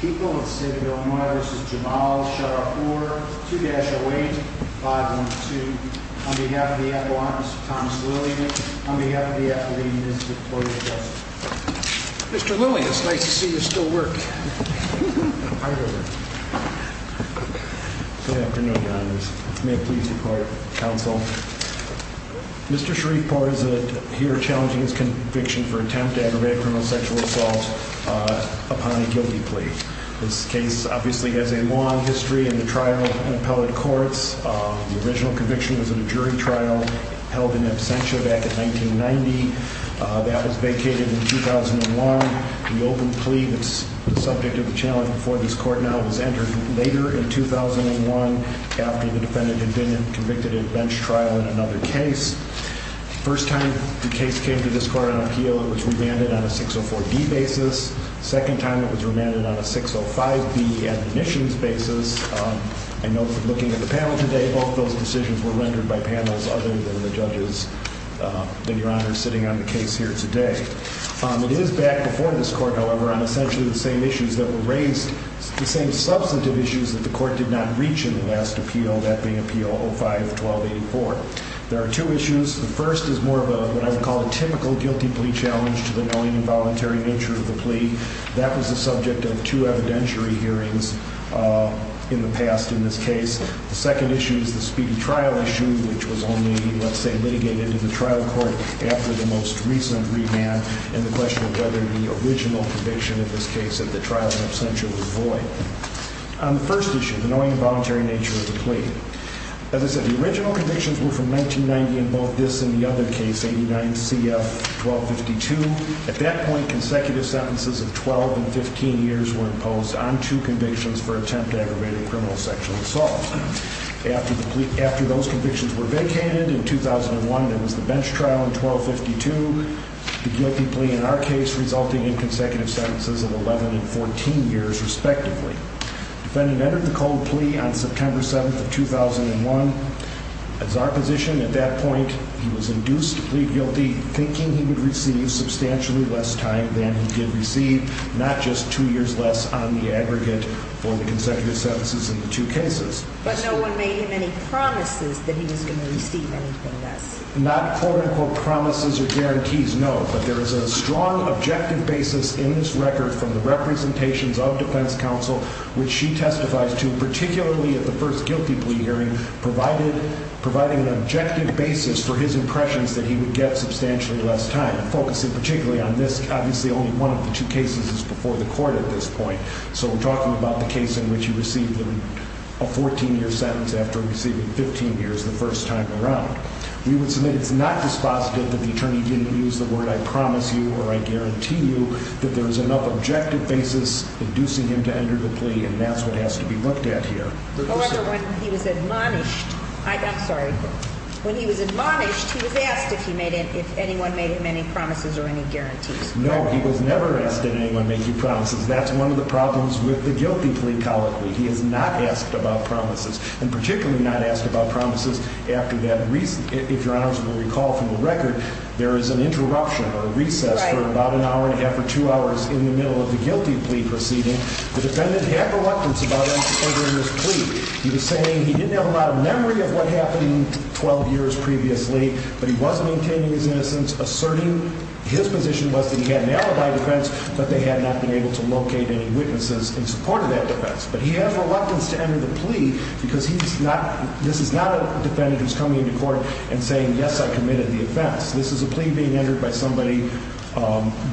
People of the State of Illinois, this is Jamal Sharifpour, 2-08-512. On behalf of the Appellant, Mr. Thomas Lillian. On behalf of the Appellant, Mr. Cloyer Justice. Mr. Lillian, it's nice to see you still work. Good afternoon, Your Honors. May I please be part of the Council? Mr. Sharifpour is here challenging his conviction for attempt to aggravate criminal sexual assault upon a guilty plea. This case obviously has a long history in the trial in appellate courts. The original conviction was in a jury trial held in absentia back in 1990. That was vacated in 2001. The open plea that's subject to the challenge before this court now was entered later in 2001 after the defendant had been convicted at bench trial in another case. First time the case came to this court on appeal, it was remanded on a 604D basis. Second time it was remanded on a 605B admissions basis. I note that looking at the panel today, both those decisions were rendered by panels other than the judges. Then Your Honor is sitting on the case here today. It is back before this court, however, on essentially the same issues that were raised. The same substantive issues that the court did not reach in the last appeal, that being appeal 05-12-84. There are two issues. The first is more of what I would call a typical guilty plea challenge to the knowing involuntary nature of the plea. That was the subject of two evidentiary hearings in the past in this case. The second issue is the speedy trial issue, which was only, let's say, litigated in the trial court after the most recent remand. And the question of whether the original conviction in this case at the trial in absentia was void. On the first issue, the knowing involuntary nature of the plea. As I said, the original convictions were from 1990 in both this and the other case, 89 CF 1252. At that point, consecutive sentences of 12 and 15 years were imposed on two convictions for attempt to aggravate a criminal sexual assault. After those convictions were vacated in 2001, there was the bench trial in 1252. The guilty plea in our case resulting in consecutive sentences of 11 and 14 years, respectively. Defendant entered the cold plea on September 7th of 2001. As our position at that point, he was induced to plead guilty, thinking he would receive substantially less time than he did receive, not just two years less on the aggregate for the consecutive sentences in the two cases. But no one made him any promises that he was going to receive anything less. Not quote unquote promises or guarantees, no. But there is a strong objective basis in this record from the representations of defense counsel, which she testifies to, particularly at the first guilty plea hearing, providing an objective basis for his impressions that he would get substantially less time. Focusing particularly on this, obviously only one of the two cases is before the court at this point. So we're talking about the case in which he received a 14-year sentence after receiving 15 years the first time around. We would submit it's not dispositive that the attorney didn't use the word I promise you or I guarantee you that there is enough objective basis inducing him to enter the plea, and that's what has to be looked at here. However, when he was admonished, I'm sorry. When he was admonished, he was asked if anyone made him any promises or any guarantees. No, he was never asked did anyone make you promises. That's one of the problems with the guilty plea colloquy. He is not asked about promises, and particularly not asked about promises after that. If your honors will recall from the record, there is an interruption or recess for about an hour and a half or two hours in the middle of the guilty plea proceeding. The defendant had reluctance about entering his plea. He was saying he didn't have a lot of memory of what happened 12 years previously, but he was maintaining his innocence, asserting his position was that he had an alibi defense, but they had not been able to locate any witnesses in support of that defense. But he has reluctance to enter the plea because this is not a defendant who is coming into court and saying, yes, I committed the offense. This is a plea being entered by somebody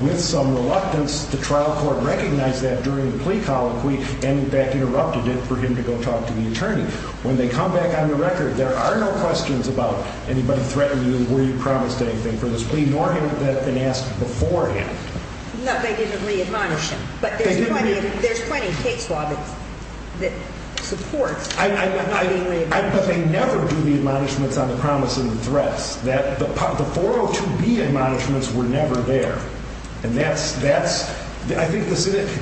with some reluctance. The trial court recognized that during the plea colloquy and, in fact, interrupted it for him to go talk to the attorney. When they come back on the record, there are no questions about anybody threatening you, were you promised anything for this plea, nor had that been asked beforehand. No, they didn't re-admonish him. But there's plenty of case law that supports not being re-admonished. But they never do the admonishments on the promise and the threats. The 402B admonishments were never there. And that's, I think,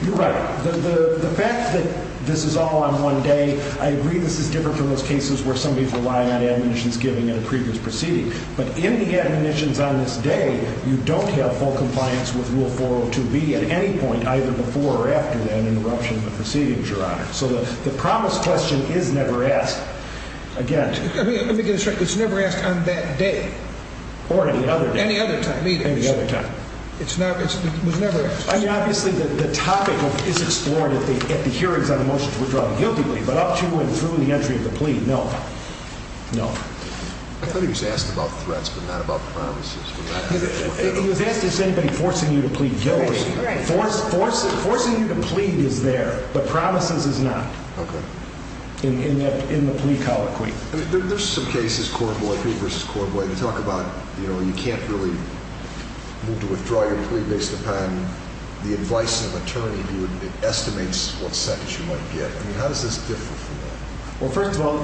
you're right. The fact that this is all on one day, I agree this is different from those cases where somebody's relying on admonitions given in a previous proceeding. But in the admonitions on this day, you don't have full compliance with Rule 402B at any point, either before or after that interruption of the proceedings, Your Honor. So the promise question is never asked again. Let me get this straight. It's never asked on that day? Or any other day. Any other time? Any other time. It was never asked? I mean, obviously, the topic is explored at the hearings on the motion to withdraw the guilty plea. But up to and through the entry of the plea, no. No. I thought he was asked about threats but not about promises. He was asked if there's anybody forcing you to plead guilty. Forcing you to plead is there, but promises is not. Okay. In the plea colloquy. There's some cases, Corboy v. Corboy, that talk about, you know, you can't really move to withdraw your plea based upon the advice of an attorney. It estimates what sentence you might get. I mean, how does this differ from that? Well, first of all,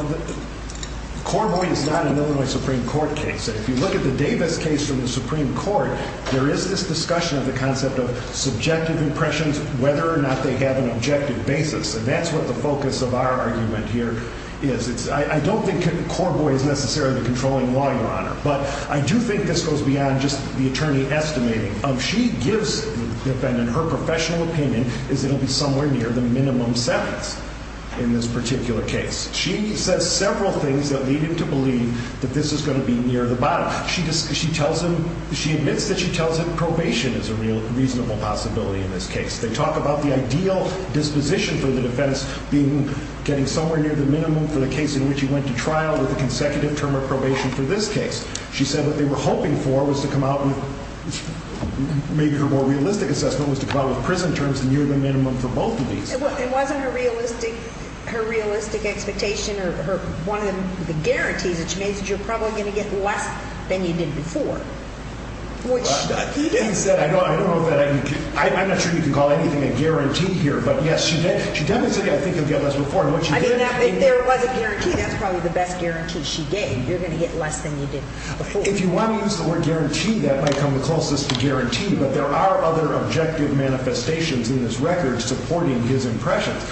Corboy is not a Illinois Supreme Court case. If you look at the Davis case from the Supreme Court, there is this discussion of the concept of subjective impressions, whether or not they have an objective basis. And that's what the focus of our argument here is. I don't think Corboy is necessarily the controlling law, Your Honor. But I do think this goes beyond just the attorney estimating. She gives the defendant her professional opinion is it will be somewhere near the minimum sentence in this particular case. She says several things that lead him to believe that this is going to be near the bottom. She admits that she tells him probation is a reasonable possibility in this case. They talk about the ideal disposition for the defense being getting somewhere near the minimum for the case in which he went to trial with a consecutive term of probation for this case. She said what they were hoping for was to come out with maybe her more realistic assessment was to come out with prison terms near the minimum for both of these. It wasn't her realistic expectation or one of the guarantees that she made that you're probably going to get less than you did before. I'm not sure you can call anything a guarantee here, but yes, she did. She definitely said I think you'll get less than before. If there was a guarantee, that's probably the best guarantee she gave. You're going to get less than you did before. If you want to use the word guarantee, that might come the closest to guarantee. But there are other objective manifestations in this record supporting his impressions.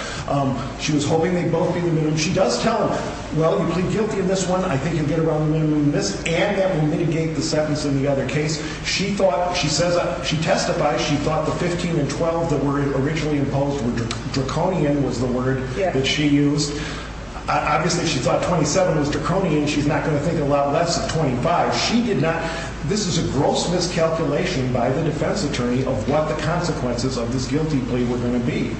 She was hoping they'd both be the minimum. She does tell him, well, you plead guilty in this one. I think you'll get around the minimum in this, and that will mitigate the sentence in the other case. She testified she thought the 15 and 12 that were originally imposed were draconian was the word that she used. Obviously, she thought 27 was draconian. She's not going to think a lot less of 25. She did not. This is a gross miscalculation by the defense attorney of what the consequences of this guilty plea were going to be.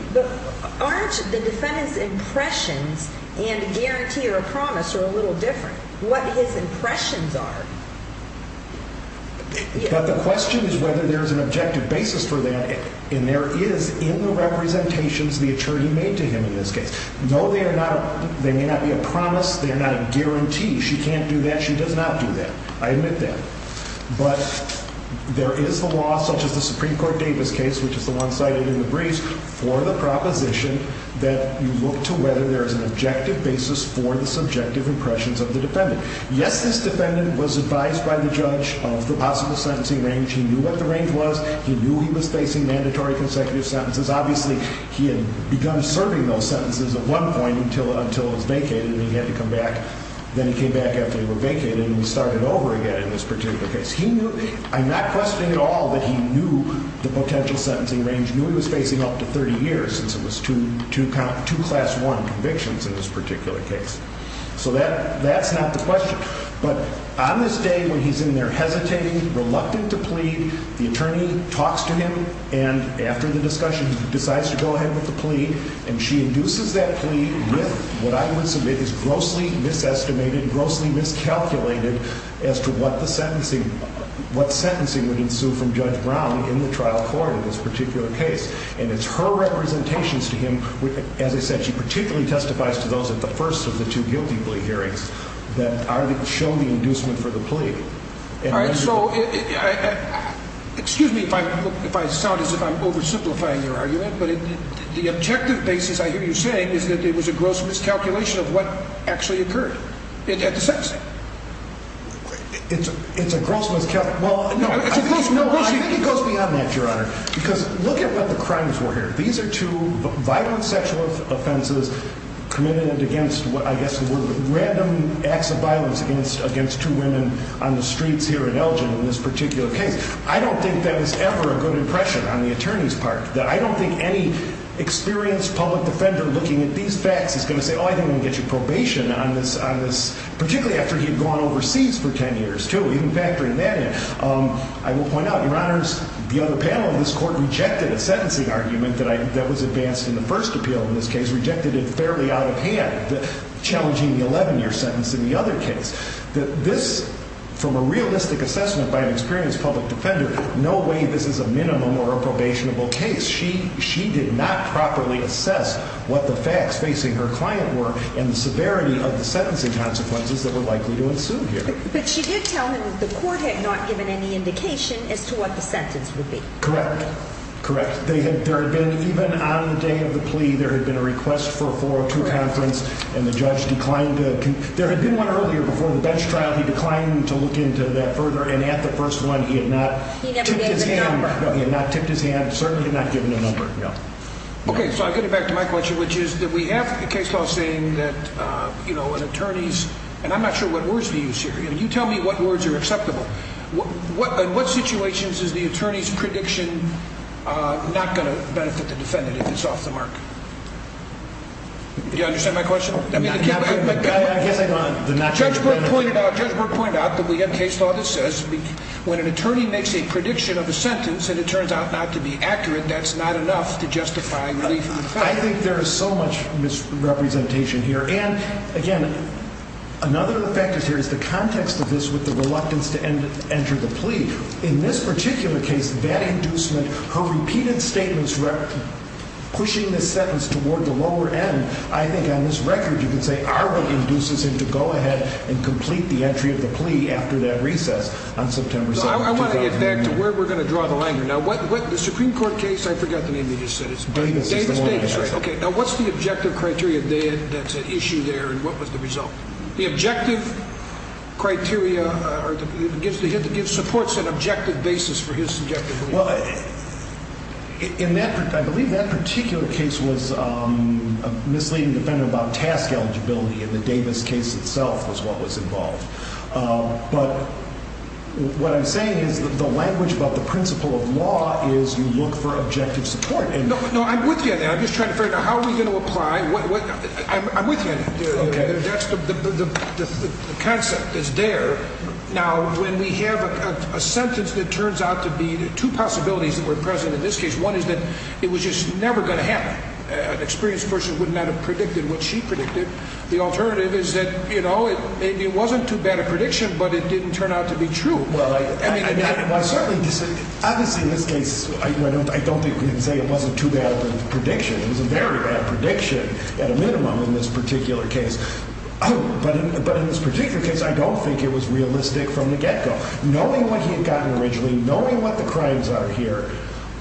Aren't the defendant's impressions and guarantee or promise are a little different? What his impressions are? But the question is whether there's an objective basis for that. And there is in the representations the attorney made to him in this case. No, they may not be a promise. They're not a guarantee. She can't do that. She does not do that. I admit that. But there is the law, such as the Supreme Court Davis case, which is the one cited in the briefs, for the proposition that you look to whether there is an objective basis for the subjective impressions of the defendant. Yes, this defendant was advised by the judge of the possible sentencing range. He knew what the range was. He knew he was facing mandatory consecutive sentences. Obviously, he had begun serving those sentences at one point until it was vacated and he had to come back. Then he came back after they were vacated and he started over again in this particular case. I'm not questioning at all that he knew the potential sentencing range. He knew he was facing up to 30 years since it was two class one convictions in this particular case. So that's not the question. But on this day when he's in there hesitating, reluctant to plead, the attorney talks to him and, after the discussion, decides to go ahead with the plea. And she induces that plea with what I would submit is grossly misestimated, grossly miscalculated as to what the sentencing would ensue from Judge Brown in the trial court in this particular case. And it's her representations to him, as I said, she particularly testifies to those at the first of the two guilty plea hearings that show the inducement for the plea. All right, so excuse me if I sound as if I'm oversimplifying your argument, but the objective basis I hear you saying is that it was a gross miscalculation of what actually occurred at the sentencing. It's a gross miscalculation. No, I think it goes beyond that, Your Honor. Because look at what the crimes were here. These are two violent sexual offenses committed against what I guess were random acts of violence against two women on the streets here in Elgin in this particular case. I don't think that is ever a good impression on the attorney's part. I don't think any experienced public defender looking at these facts is going to say, oh, I think I'm going to get you probation on this, particularly after he'd gone overseas for 10 years, too, even factoring that in. I will point out, Your Honors, the other panel of this court rejected a sentencing argument that was advanced in the first appeal in this case, rejected it fairly out of hand, challenging the 11-year sentence in the other case. This, from a realistic assessment by an experienced public defender, no way this is a minimum or a probationable case. She did not properly assess what the facts facing her client were and the severity of the sentencing consequences that were likely to ensue here. But she did tell him that the court had not given any indication as to what the sentence would be. Correct, correct. There had been, even on the day of the plea, there had been a request for a 402 conference, and the judge declined to – there had been one earlier before the bench trial. He declined to look into that further, and at the first one, he had not tipped his hand. He had not given a number. No, he had not tipped his hand, certainly not given a number. Okay, so I'll get it back to my question, which is that we have a case law saying that an attorney's – and I'm not sure what words to use here. You tell me what words are acceptable. In what situations is the attorney's prediction not going to benefit the defendant if it's off the mark? Do you understand my question? I guess I don't. Judge Burke pointed out that we have case law that says when an attorney makes a prediction of a sentence and it turns out not to be accurate, that's not enough to justify relief. I think there is so much misrepresentation here. And, again, another of the factors here is the context of this with the reluctance to enter the plea. In this particular case, that inducement, her repeated statements pushing the sentence toward the lower end, I think on this record you can say are what induces him to go ahead and complete the entry of the plea after that recess on September 7th, 2009. I want to get back to where we're going to draw the line here. Now, the Supreme Court case – I forgot the name you just said. Davis. Now, what's the objective criteria, Dan, that's at issue there, and what was the result? The objective criteria gives supports an objective basis for his subjective belief. I believe that particular case was a misleading defendant about task eligibility, and the Davis case itself was what was involved. But what I'm saying is the language about the principle of law is you look for objective support. No, I'm with you on that. I'm just trying to figure out how we're going to apply – I'm with you on that. The concept is there. Now, when we have a sentence that turns out to be – two possibilities that were present in this case. One is that it was just never going to happen. An experienced person would not have predicted what she predicted. The alternative is that, you know, maybe it wasn't too bad a prediction, but it didn't turn out to be true. Well, I mean, I certainly disagree. Obviously, in this case, I don't think we can say it wasn't too bad of a prediction. It was a very bad prediction at a minimum in this particular case. But in this particular case, I don't think it was realistic from the get-go. Knowing what he had gotten originally, knowing what the crimes are here,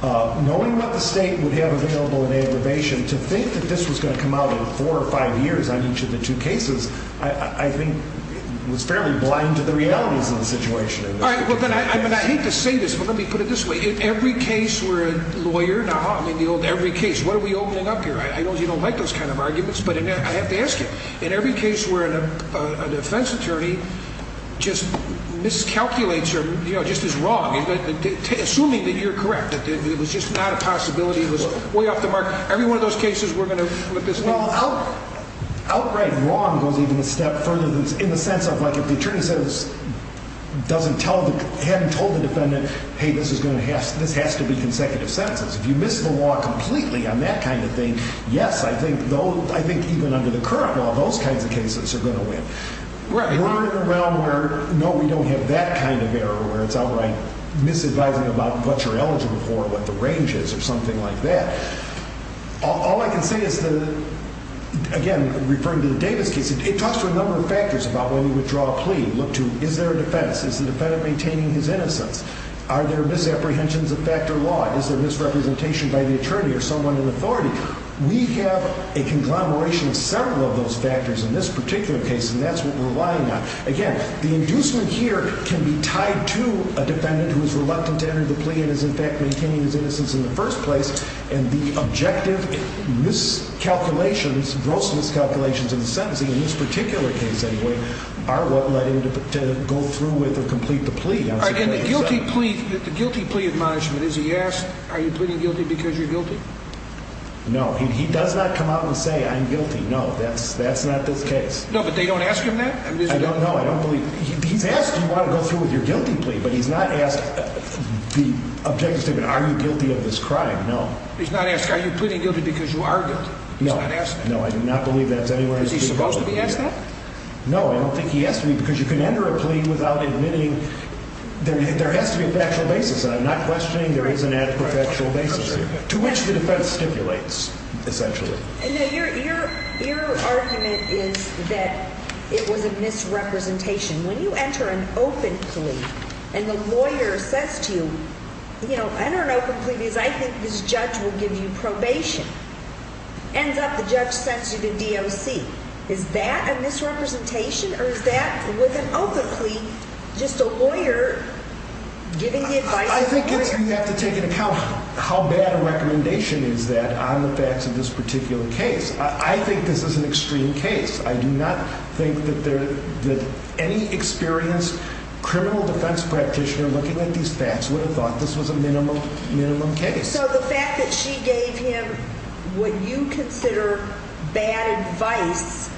knowing what the state would have available in aggravation, to think that this was going to come out in four or five years on each of the two cases, I think was fairly blind to the realities of the situation. All right. Well, then I hate to say this, but let me put it this way. In every case where a lawyer – now, ha, I mean, the old every case. What are we opening up here? I know you don't like those kind of arguments, but I have to ask you. In every case where an offense attorney just miscalculates or, you know, just is wrong, assuming that you're correct, that it was just not a possibility, it was way off the mark, every one of those cases we're going to – Well, outright wrong goes even a step further in the sense of, like, if the attorney hadn't told the defendant, hey, this has to be consecutive sentences. If you miss the law completely on that kind of thing, yes, I think even under the current law, those kinds of cases are going to win. Right. We're in a realm where, no, we don't have that kind of error where it's outright misadvising about what you're eligible for or what the range is or something like that. All I can say is that, again, referring to the Davis case, it talks to a number of factors about when you withdraw a plea. Look to, is there a defense? Is the defendant maintaining his innocence? Are there misapprehensions of fact or law? Is there misrepresentation by the attorney or someone in authority? We have a conglomeration of several of those factors in this particular case, and that's what we're relying on. Again, the inducement here can be tied to a defendant who is reluctant to enter the plea and is, in fact, maintaining his innocence in the first place, and the objective miscalculations, gross miscalculations in the sentencing, in this particular case anyway, are what led him to go through with or complete the plea. And the guilty plea admonishment, is he asked, are you pleading guilty because you're guilty? No. He does not come out and say, I'm guilty. No, that's not this case. No, but they don't ask him that? I don't know. I don't believe. He's asked, do you want to go through with your guilty plea? But he's not asked the objective statement, are you guilty of this crime? No. He's not asked, are you pleading guilty because you are guilty? No. He's not asked that? No, I do not believe that's anywhere in his plea. Is he supposed to be asked that? No, I don't think he has to be, because you can enter a plea without admitting. There has to be a factual basis, and I'm not questioning there isn't a factual basis here, to which the defense stipulates, essentially. And your argument is that it was a misrepresentation. When you enter an open plea, and the lawyer says to you, you know, enter an open plea because I think this judge will give you probation. Ends up the judge sends you to DOC. Is that a misrepresentation, or is that, with an open plea, just a lawyer giving the advice to the lawyer? I think you have to take into account how bad a recommendation is that on the facts of this particular case. I think this is an extreme case. I do not think that any experienced criminal defense practitioner looking at these facts would have thought this was a minimum case. So the fact that she gave him what you consider bad advice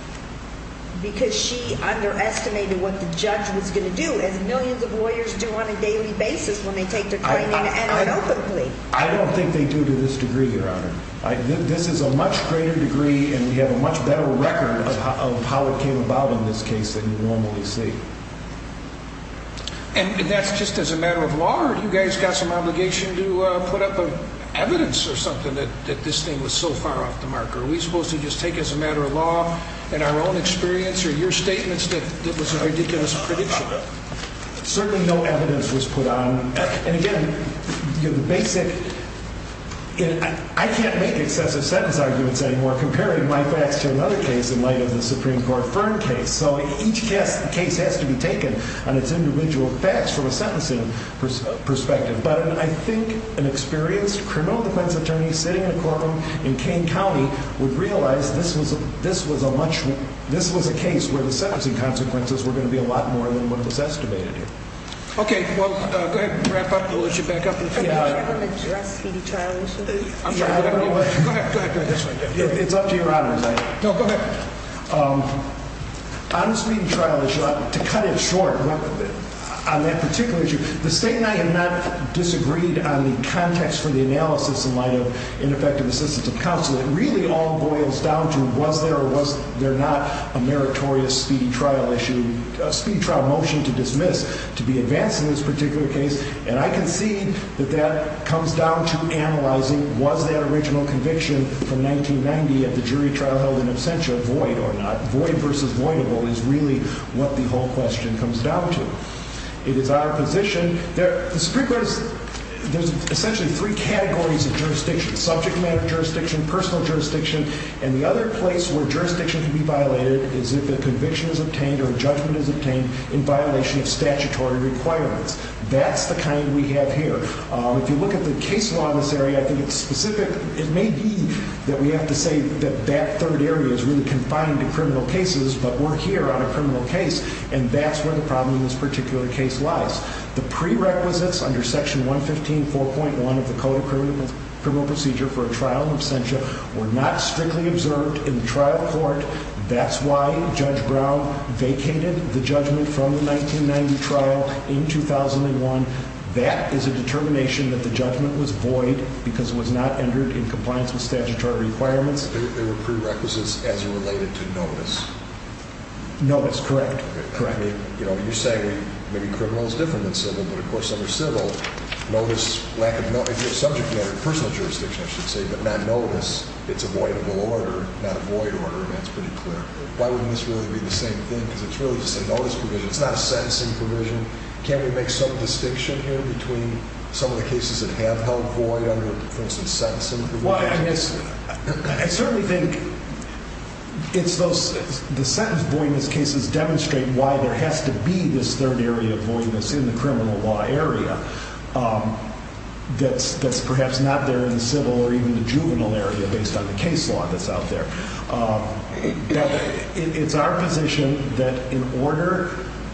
because she underestimated what the judge was going to do, as millions of lawyers do on a daily basis when they take to claiming to enter an open plea. I don't think they do to this degree, Your Honor. This is a much greater degree, and we have a much better record of how it came about in this case than you normally see. And that's just as a matter of law? Or do you guys got some obligation to put up evidence or something that this thing was so far off the marker? Are we supposed to just take as a matter of law, in our own experience, or your statements that this was a ridiculous prediction? Certainly no evidence was put on. And again, I can't make excessive sentence arguments anymore comparing my facts to another case in light of the Supreme Court Fern case. So each case has to be taken on its individual facts from a sentencing perspective. But I think an experienced criminal defense attorney sitting in a courtroom in Kane County would realize this was a case where the sentencing consequences were going to be a lot more than what was estimated. Okay, well, go ahead and wrap up. We'll let you back up. Do you ever address speedy trial issues? Go ahead. It's up to Your Honor. No, go ahead. On the speedy trial issue, to cut it short, on that particular issue, the State and I have not disagreed on the context for the analysis in light of ineffective assistance of counsel. It really all boils down to was there or was there not a meritorious speedy trial issue? A speedy trial motion to dismiss to be advanced in this particular case? And I can see that that comes down to analyzing was that original conviction from 1990 of the jury trial held in absentia void or not? Void versus voidable is really what the whole question comes down to. It is our position that the Supreme Court is essentially three categories of jurisdiction, subject matter jurisdiction, personal jurisdiction, and the other place where jurisdiction can be violated is if a conviction is obtained or a judgment is obtained in violation of statutory requirements. That's the kind we have here. If you look at the case law in this area, I think it's specific. It may be that we have to say that that third area is really confined to criminal cases, but we're here on a criminal case, and that's where the problem in this particular case lies. The prerequisites under Section 115.4.1 of the Code of Criminal Procedure for a trial in absentia were not strictly observed in the trial court. That's why Judge Brown vacated the judgment from the 1990 trial in 2001. That is a determination that the judgment was void because it was not entered in compliance with statutory requirements. There were prerequisites as it related to notice. Notice, correct. You're saying maybe criminal is different than civil, but, of course, under civil, notice, subject matter, personal jurisdiction, I should say, but not notice, it's a voidable order, not a void order, and that's pretty clear. Why wouldn't this really be the same thing? Because it's really just a notice provision. It's not a sentencing provision. Can't we make some distinction here between some of the cases that have held void under, for instance, sentencing provisions? Well, I mean, I certainly think it's those, the sentence voidness cases demonstrate why there has to be this third area of voidness in the criminal law area that's perhaps not there in the civil or even the juvenile area based on the case law that's out there. It's our position that in order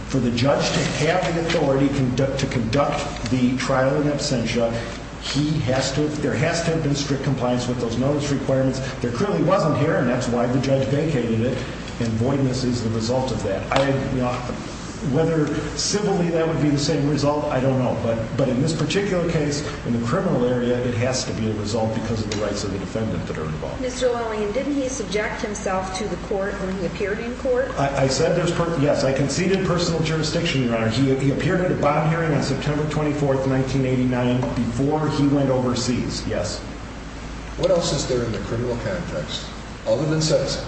for the judge to have the authority to conduct the trial in absentia, there has to have been strict compliance with those notice requirements. There clearly wasn't here, and that's why the judge vacated it, and voidness is the result of that. Whether civilly that would be the same result, I don't know, but in this particular case, in the criminal area, it has to be a result because of the rights of the defendant that are involved. Mr. Lillian, didn't he subject himself to the court when he appeared in court? I said there's, yes, I conceded personal jurisdiction, Your Honor. He appeared at a bond hearing on September 24th, 1989 before he went overseas, yes. What else is there in the criminal context, other than sentencing,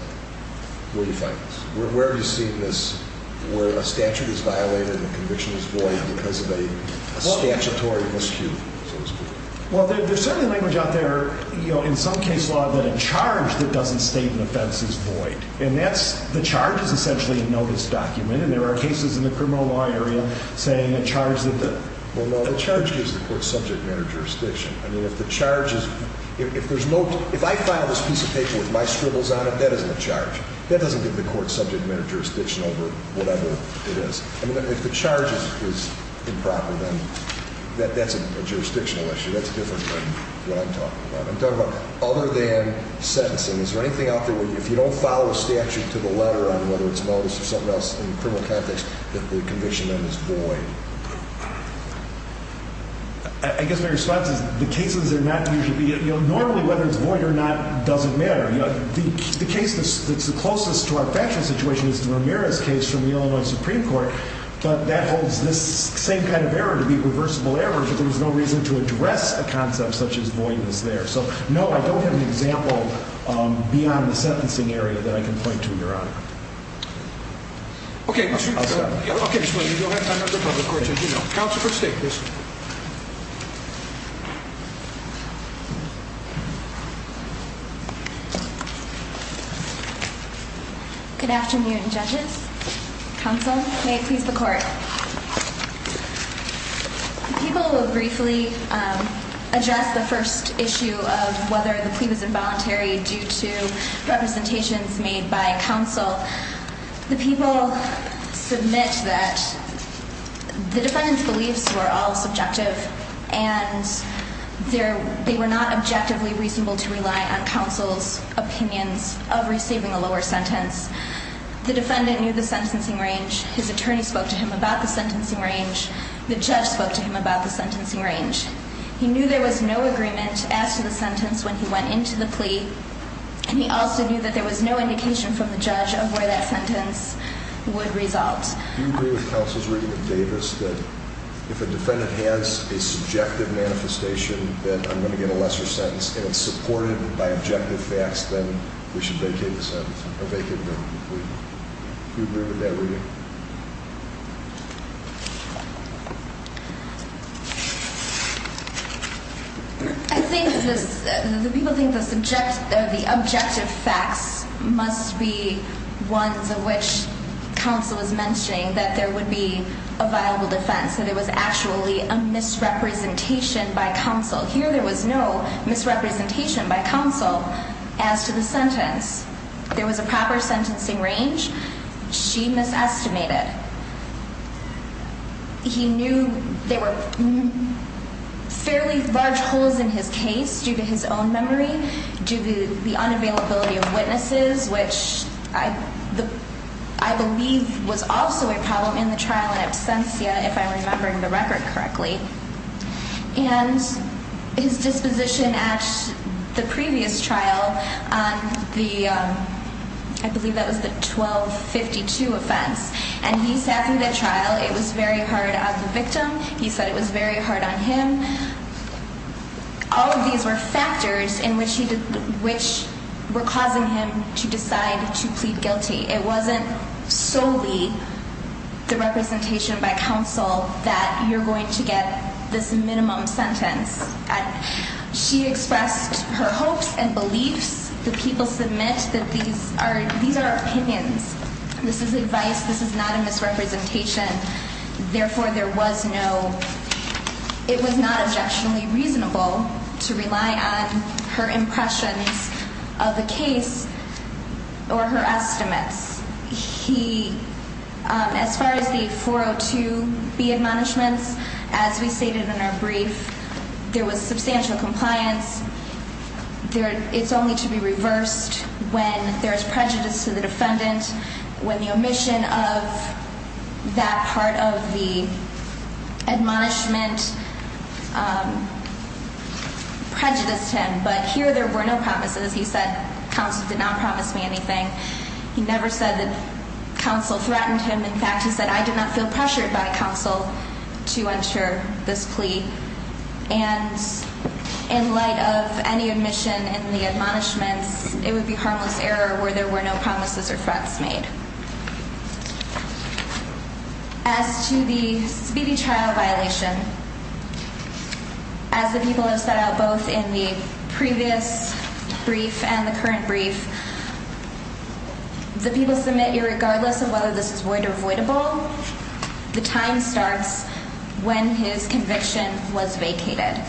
where you find this? Where have you seen this where a statute is violated and the conviction is void because of a statutory miscue? Well, there's certainly language out there, you know, in some case law that a charge that doesn't state an offense is void, and that's, the charge is essentially a notice document, and there are cases in the criminal law area saying a charge that the… Well, no, the charge gives the court subject matter jurisdiction. I mean, if the charge is, if there's no, if I file this piece of paper with my scribbles on it, that isn't a charge. That doesn't give the court subject matter jurisdiction over whatever it is. I mean, if the charge is improper, then that's a jurisdictional issue. That's different from what I'm talking about. I'm talking about other than sentencing. Is there anything out there where if you don't follow a statute to the letter on whether it's a notice or something else in the criminal context that the conviction then is void? I guess my response is the cases are not usually, you know, normally whether it's void or not doesn't matter. You know, the case that's the closest to our factual situation is the Ramirez case from the Illinois Supreme Court, but that holds this same kind of error to be reversible error if there was no reason to address a concept such as void was there. So, no, I don't have an example beyond the sentencing area that I can point to, Your Honor. Okay. I'll stop. Okay. Counsel for State, please. Good afternoon, judges. Counsel, may it please the court. People will briefly address the first issue of whether the plea was involuntary due to representations made by counsel. The people submit that the defendant's beliefs were all subjective, and they were not objectively reasonable to rely on counsel's opinions of receiving a lower sentence. The defendant knew the sentencing range. His attorney spoke to him about the sentencing range. The judge spoke to him about the sentencing range. He knew there was no agreement as to the sentence when he went into the plea, and he also knew that there was no indication from the judge of where that sentence would result. Do you agree with counsel's reading of Davis that if a defendant has a subjective manifestation that I'm going to get a lesser sentence and it's supported by objective facts, then we should vacate the sentence? Vacate the plea. Do you agree with that reading? I think the people think the objective facts must be ones of which counsel is mentioning that there would be a viable defense, that there was actually a misrepresentation by counsel. Here there was no misrepresentation by counsel as to the sentence. There was a proper sentencing range. She misestimated. He knew there were fairly large holes in his case due to his own memory, due to the unavailability of witnesses, which I believe was also a problem in the trial in absentia, if I'm remembering the record correctly. And his disposition at the previous trial on the, I believe that was the 1252 offense, and he sat through that trial. It was very hard on the victim. He said it was very hard on him. All of these were factors in which he, which were causing him to decide to plead guilty. It wasn't solely the representation by counsel that you're going to get this minimum sentence. She expressed her hopes and beliefs. The people submit that these are opinions. This is advice. This is not a misrepresentation. Therefore, there was no, it was not objectionably reasonable to rely on her impressions of the case or her estimates. He, as far as the 402B admonishments, as we stated in our brief, there was substantial compliance. It's only to be reversed when there's prejudice to the defendant, when the omission of that part of the admonishment prejudiced him. But here there were no promises. He said counsel did not promise me anything. He never said that counsel threatened him. In fact, he said, I did not feel pressured by counsel to enter this plea. And in light of any omission in the admonishments, it would be harmless error where there were no promises or threats made. As to the speedy trial violation, as the people have set out both in the previous brief and the current brief, the people submit irregardless of whether this is void or avoidable, the time starts when his conviction was vacated.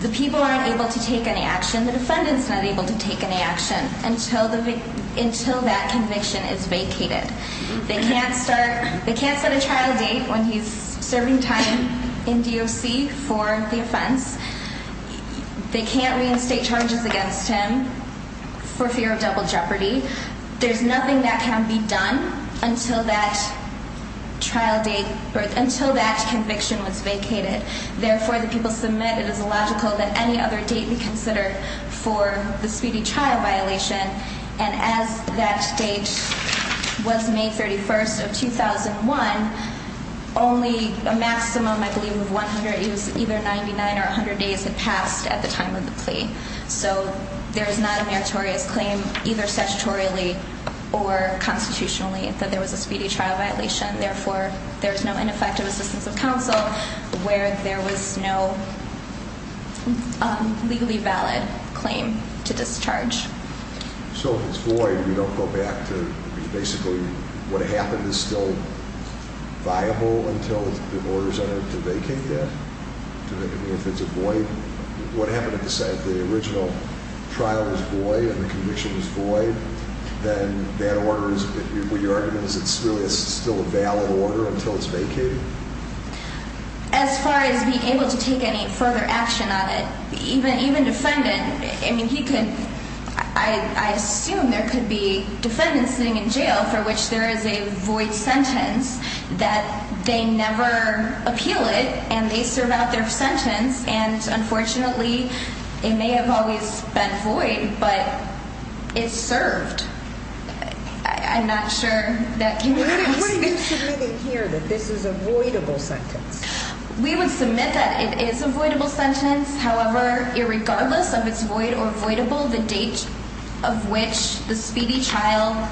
The people aren't able to take any action. The defendant's not able to take any action until that conviction is vacated. They can't start, they can't set a trial date when he's serving time in DOC for the offense. They can't reinstate charges against him for fear of double jeopardy. There's nothing that can be done until that trial date or until that conviction was vacated. Therefore, the people submit it is illogical that any other date be considered for the speedy trial violation. And as that date was May 31st of 2001, only a maximum, I believe, of 100 days, either 99 or 100 days had passed at the time of the plea. So there's not a meritorious claim either statutorily or constitutionally that there was a speedy trial violation. Therefore, there's no ineffective assistance of counsel where there was no legally valid claim to discharge. So if it's void, we don't go back to basically what happened is still viable until the orders are to vacate that? I mean, if it's a void, what happened at the site? The original trial was void and the conviction was void, then that order is, what you're arguing, is it still a valid order until it's vacated? As far as being able to take any further action on it, even defendant, I mean, he could, I assume there could be defendants sitting in jail for which there is a void sentence that they never appeal it and they serve out their sentence. And unfortunately, it may have always been void, but it's served. I'm not sure that can be true. What are you submitting here that this is a voidable sentence? We would submit that it is a voidable sentence. However, irregardless of it's void or voidable, the date of which the speedy trial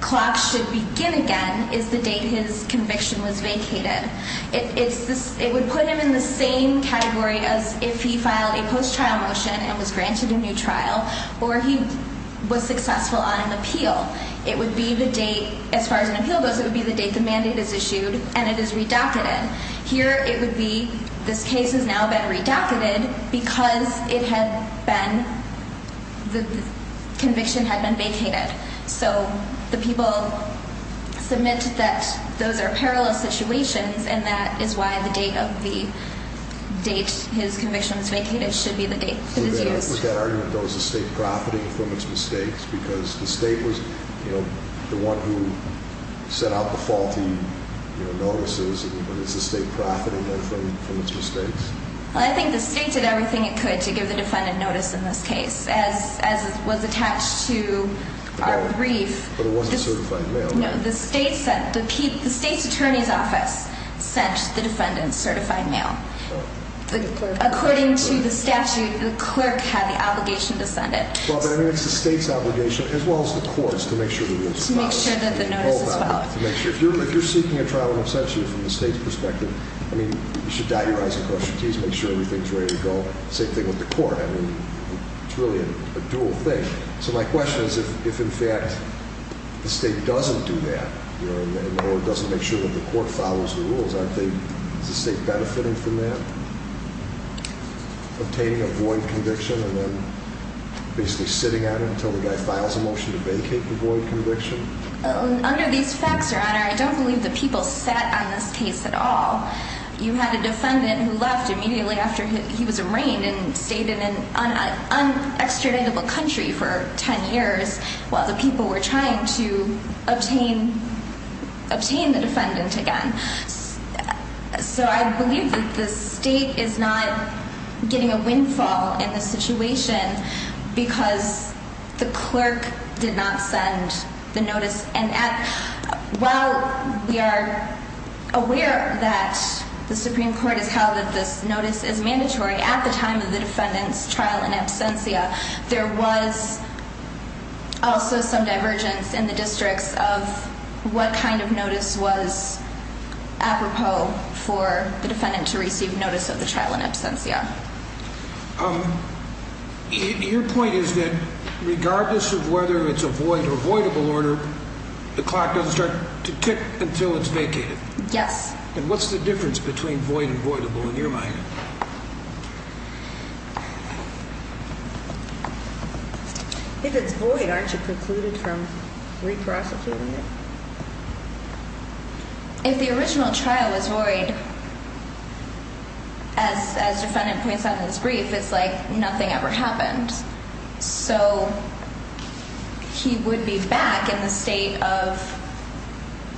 clock should begin again is the date his conviction was vacated. It would put him in the same category as if he filed a post-trial motion and was granted a new trial or he was successful on an appeal. It would be the date, as far as an appeal goes, it would be the date the mandate is issued and it is redacted. Here it would be this case has now been redacted because it had been, the conviction had been vacated. So the people submit that those are parallel situations and that is why the date of the date his conviction was vacated should be the date that it's used. Does that argument dose the state profiting from it's mistakes? Because the state was the one who set out the faulty notices and is the state profiting from it's mistakes? I think the state did everything it could to give the defendant notice in this case. As it was attached to our brief. But it wasn't certified mail. No, the state's attorney's office sent the defendant certified mail. According to the statute, the clerk had the obligation to send it. Well, but I mean it's the state's obligation as well as the court's to make sure the rules are followed. To make sure that the notice is followed. If you're seeking a trial in absentia from the state's perspective, I mean, you should dot your I's and cross your T's and make sure everything is ready to go. Same thing with the court. I mean, it's really a dual thing. So my question is if in fact the state doesn't do that, or doesn't make sure that the court follows the rules, is the state benefiting from that? Obtaining a void conviction and then basically sitting on it until the guy files a motion to vacate the void conviction? Under these facts, your honor, I don't believe the people sat on this case at all. You had a defendant who left immediately after he was arraigned and stayed in an unextraditable country for 10 years while the people were trying to obtain the defendant again. So I believe that the state is not getting a windfall in this situation because the clerk did not send the notice. And while we are aware that the Supreme Court has held that this notice is mandatory at the time of the defendant's trial in absentia, there was also some divergence in the districts of what kind of notice was apropos for the defendant to receive notice of the trial in absentia. Your point is that regardless of whether it's a void or voidable order, the clock doesn't start to tick until it's vacated. Yes. And what's the difference between void and voidable in your mind? If it's void, aren't you precluded from re-prosecuting it? If the original trial was void, as the defendant points out in his brief, it's like nothing ever happened. So he would be back in the state of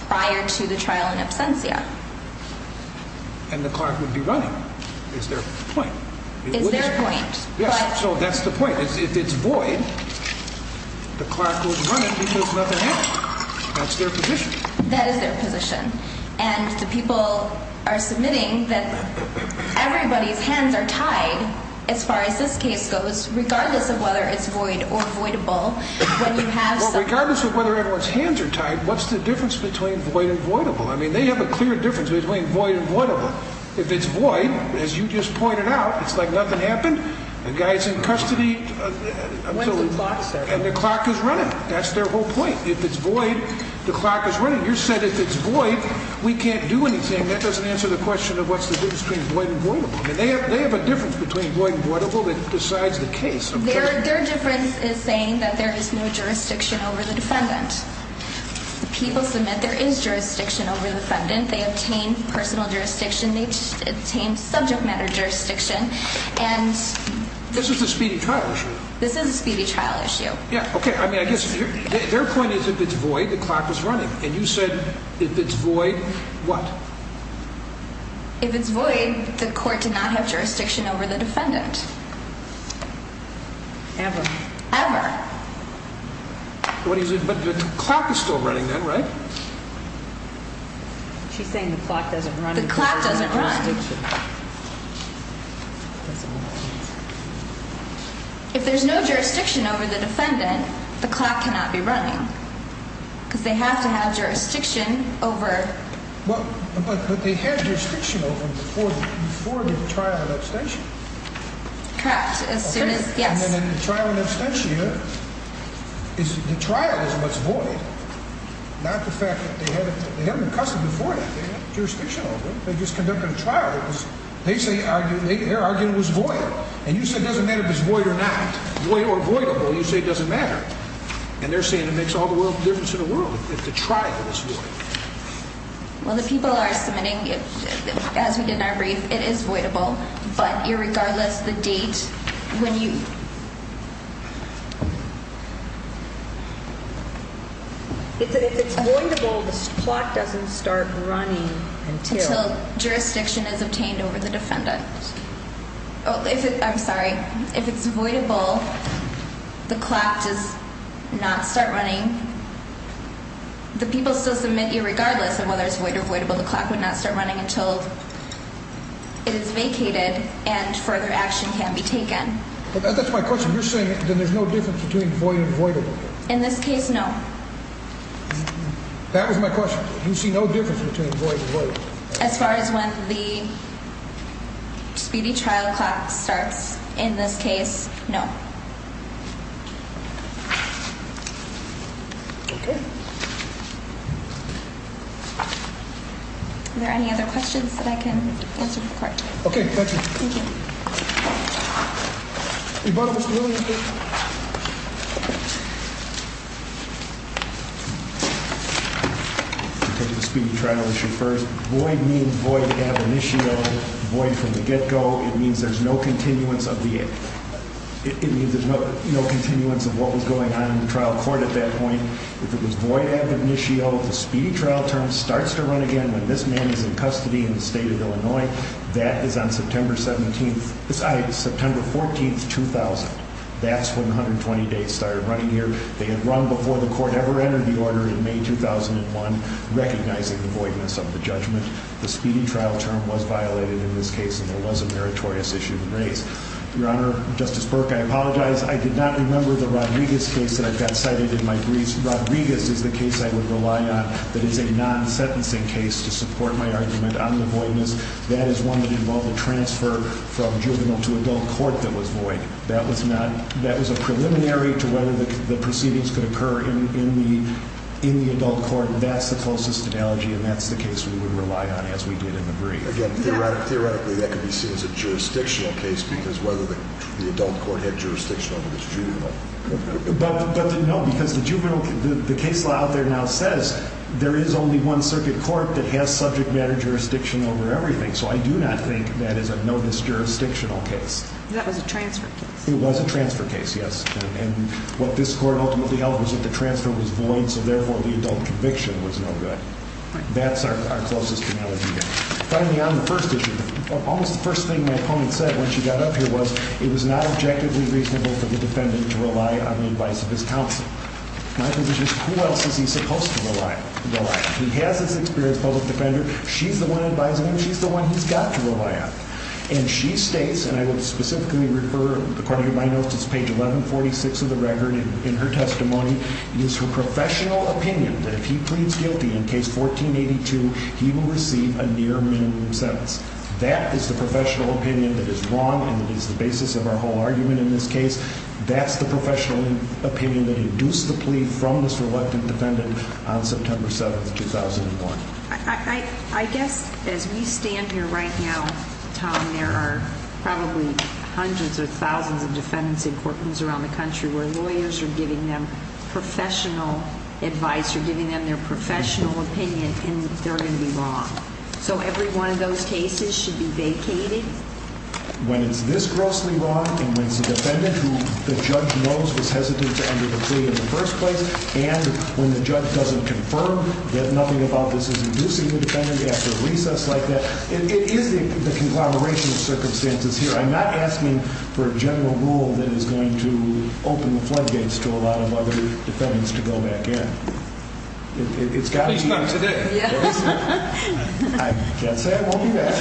prior to the trial in absentia. And the clerk would be running. Is there a point? Is there a point? Yes. So that's the point. If it's void, the clerk will run it because nothing happened. That's their position. That is their position. And the people are submitting that everybody's hands are tied as far as this case goes, regardless of whether it's void or voidable. Regardless of whether everyone's hands are tied, what's the difference between void and voidable? I mean, they have a clear difference between void and voidable. If it's void, as you just pointed out, it's like nothing happened. The guy's in custody. When's the clock, sir? And the clock is running. That's their whole point. If it's void, the clock is running. You said if it's void, we can't do anything. That doesn't answer the question of what's the difference between void and voidable. I mean, they have a difference between void and voidable that decides the case. Their difference is saying that there is no jurisdiction over the defendant. The people submit there is jurisdiction over the defendant. They obtain personal jurisdiction. They obtain subject matter jurisdiction. And this is a speedy trial issue. This is a speedy trial issue. Yeah, okay. I mean, I guess their point is if it's void, the clock is running. And you said if it's void, what? If it's void, the court did not have jurisdiction over the defendant. Ever. Ever. What is it? But the clock is still running then, right? She's saying the clock doesn't run. The clock doesn't run. If there's no jurisdiction over the defendant, the clock cannot be running. Because they have to have jurisdiction over. But they had jurisdiction over before the trial and abstention. Correct. Yes. And then in the trial and abstention, the trial is what's void, not the fact that they had him accustomed before that. They had jurisdiction over him. They just conducted a trial. They're arguing it was void. And you said it doesn't matter if it's void or not. Void or voidable, you say it doesn't matter. And they're saying it makes all the difference in the world if the trial is void. Well, the people are submitting, as we did in our brief, it is voidable. But irregardless, the date when you – If it's voidable, the clock doesn't start running until – Until jurisdiction is obtained over the defendant. Oh, I'm sorry. If it's voidable, the clock does not start running. The people still submit irregardless of whether it's void or voidable. So the clock would not start running until it is vacated and further action can be taken. That's my question. You're saying that there's no difference between void and voidable. In this case, no. That was my question. You see no difference between void and voidable. As far as when the speedy trial clock starts, in this case, no. Okay. Are there any other questions that I can answer for the court? Okay. Thank you. Thank you. I'll take the speedy trial issue first. Void means void ab initio, void from the get-go. It means there's no continuance of the – It means there's no continuance of what was going on in the trial court at that point. If it was void ab initio, the speedy trial term starts to run again when this man is in custody in the state of Illinois. That is on September 17th – Sorry, September 14th, 2000. That's when 120 days started running here. They had run before the court ever entered the order in May 2001, recognizing the voidness of the judgment. The speedy trial term was violated in this case and there was a meritorious issue raised. Your Honor, Justice Burke, I apologize. I did not remember the Rodriguez case that I've got cited in my briefs. Rodriguez is the case I would rely on that is a non-sentencing case to support my argument on the voidness. That is one that involved a transfer from juvenile to adult court that was void. That was not – that was a preliminary to whether the proceedings could occur in the adult court. That's the closest analogy and that's the case we would rely on, as we did in the brief. Again, theoretically that could be seen as a jurisdictional case because whether the adult court had jurisdiction over this juvenile. But no, because the juvenile – the case law out there now says there is only one circuit court that has subject matter jurisdiction over everything. So I do not think that is a no-disjurisdictional case. That was a transfer case. It was a transfer case, yes. And what this court ultimately held was that the transfer was void, so therefore the adult conviction was no good. That's our closest analogy there. Finally, on the first issue, almost the first thing my opponent said when she got up here was it was not objectively reasonable for the defendant to rely on the advice of his counsel. My position is who else is he supposed to rely on? He has this experience, public defender. She's the one advising him. She's the one he's got to rely on. And she states, and I would specifically refer, according to my notes, it's page 1146 of the record in her testimony. It is her professional opinion that if he pleads guilty in case 1482, he will receive a near-minimum sentence. That is the professional opinion that is wrong and is the basis of our whole argument in this case. That's the professional opinion that induced the plea from this reluctant defendant on September 7, 2001. I guess as we stand here right now, Tom, there are probably hundreds or thousands of defendants in courtrooms around the country where lawyers are giving them professional advice or giving them their professional opinion, and they're going to be wrong. So every one of those cases should be vacated? When it's this grossly wrong and when it's a defendant who the judge knows was hesitant to enter the plea in the first place and when the judge doesn't confirm that nothing about this is inducing the defendant after a recess like that, it is the conglomeration of circumstances here. I'm not asking for a general rule that is going to open the floodgates to a lot of other defendants to go back in. It's got to be today. I can't say I won't do that.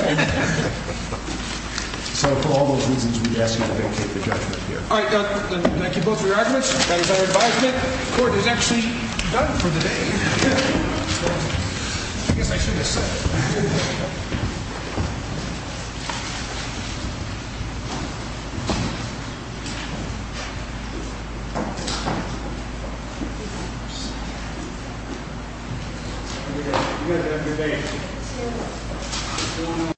So for all those reasons, we ask you to vacate the judgment here. All right. Thank you both for your arguments. That is our advisement. Court is actually done for the day. I guess I should have said. Every day.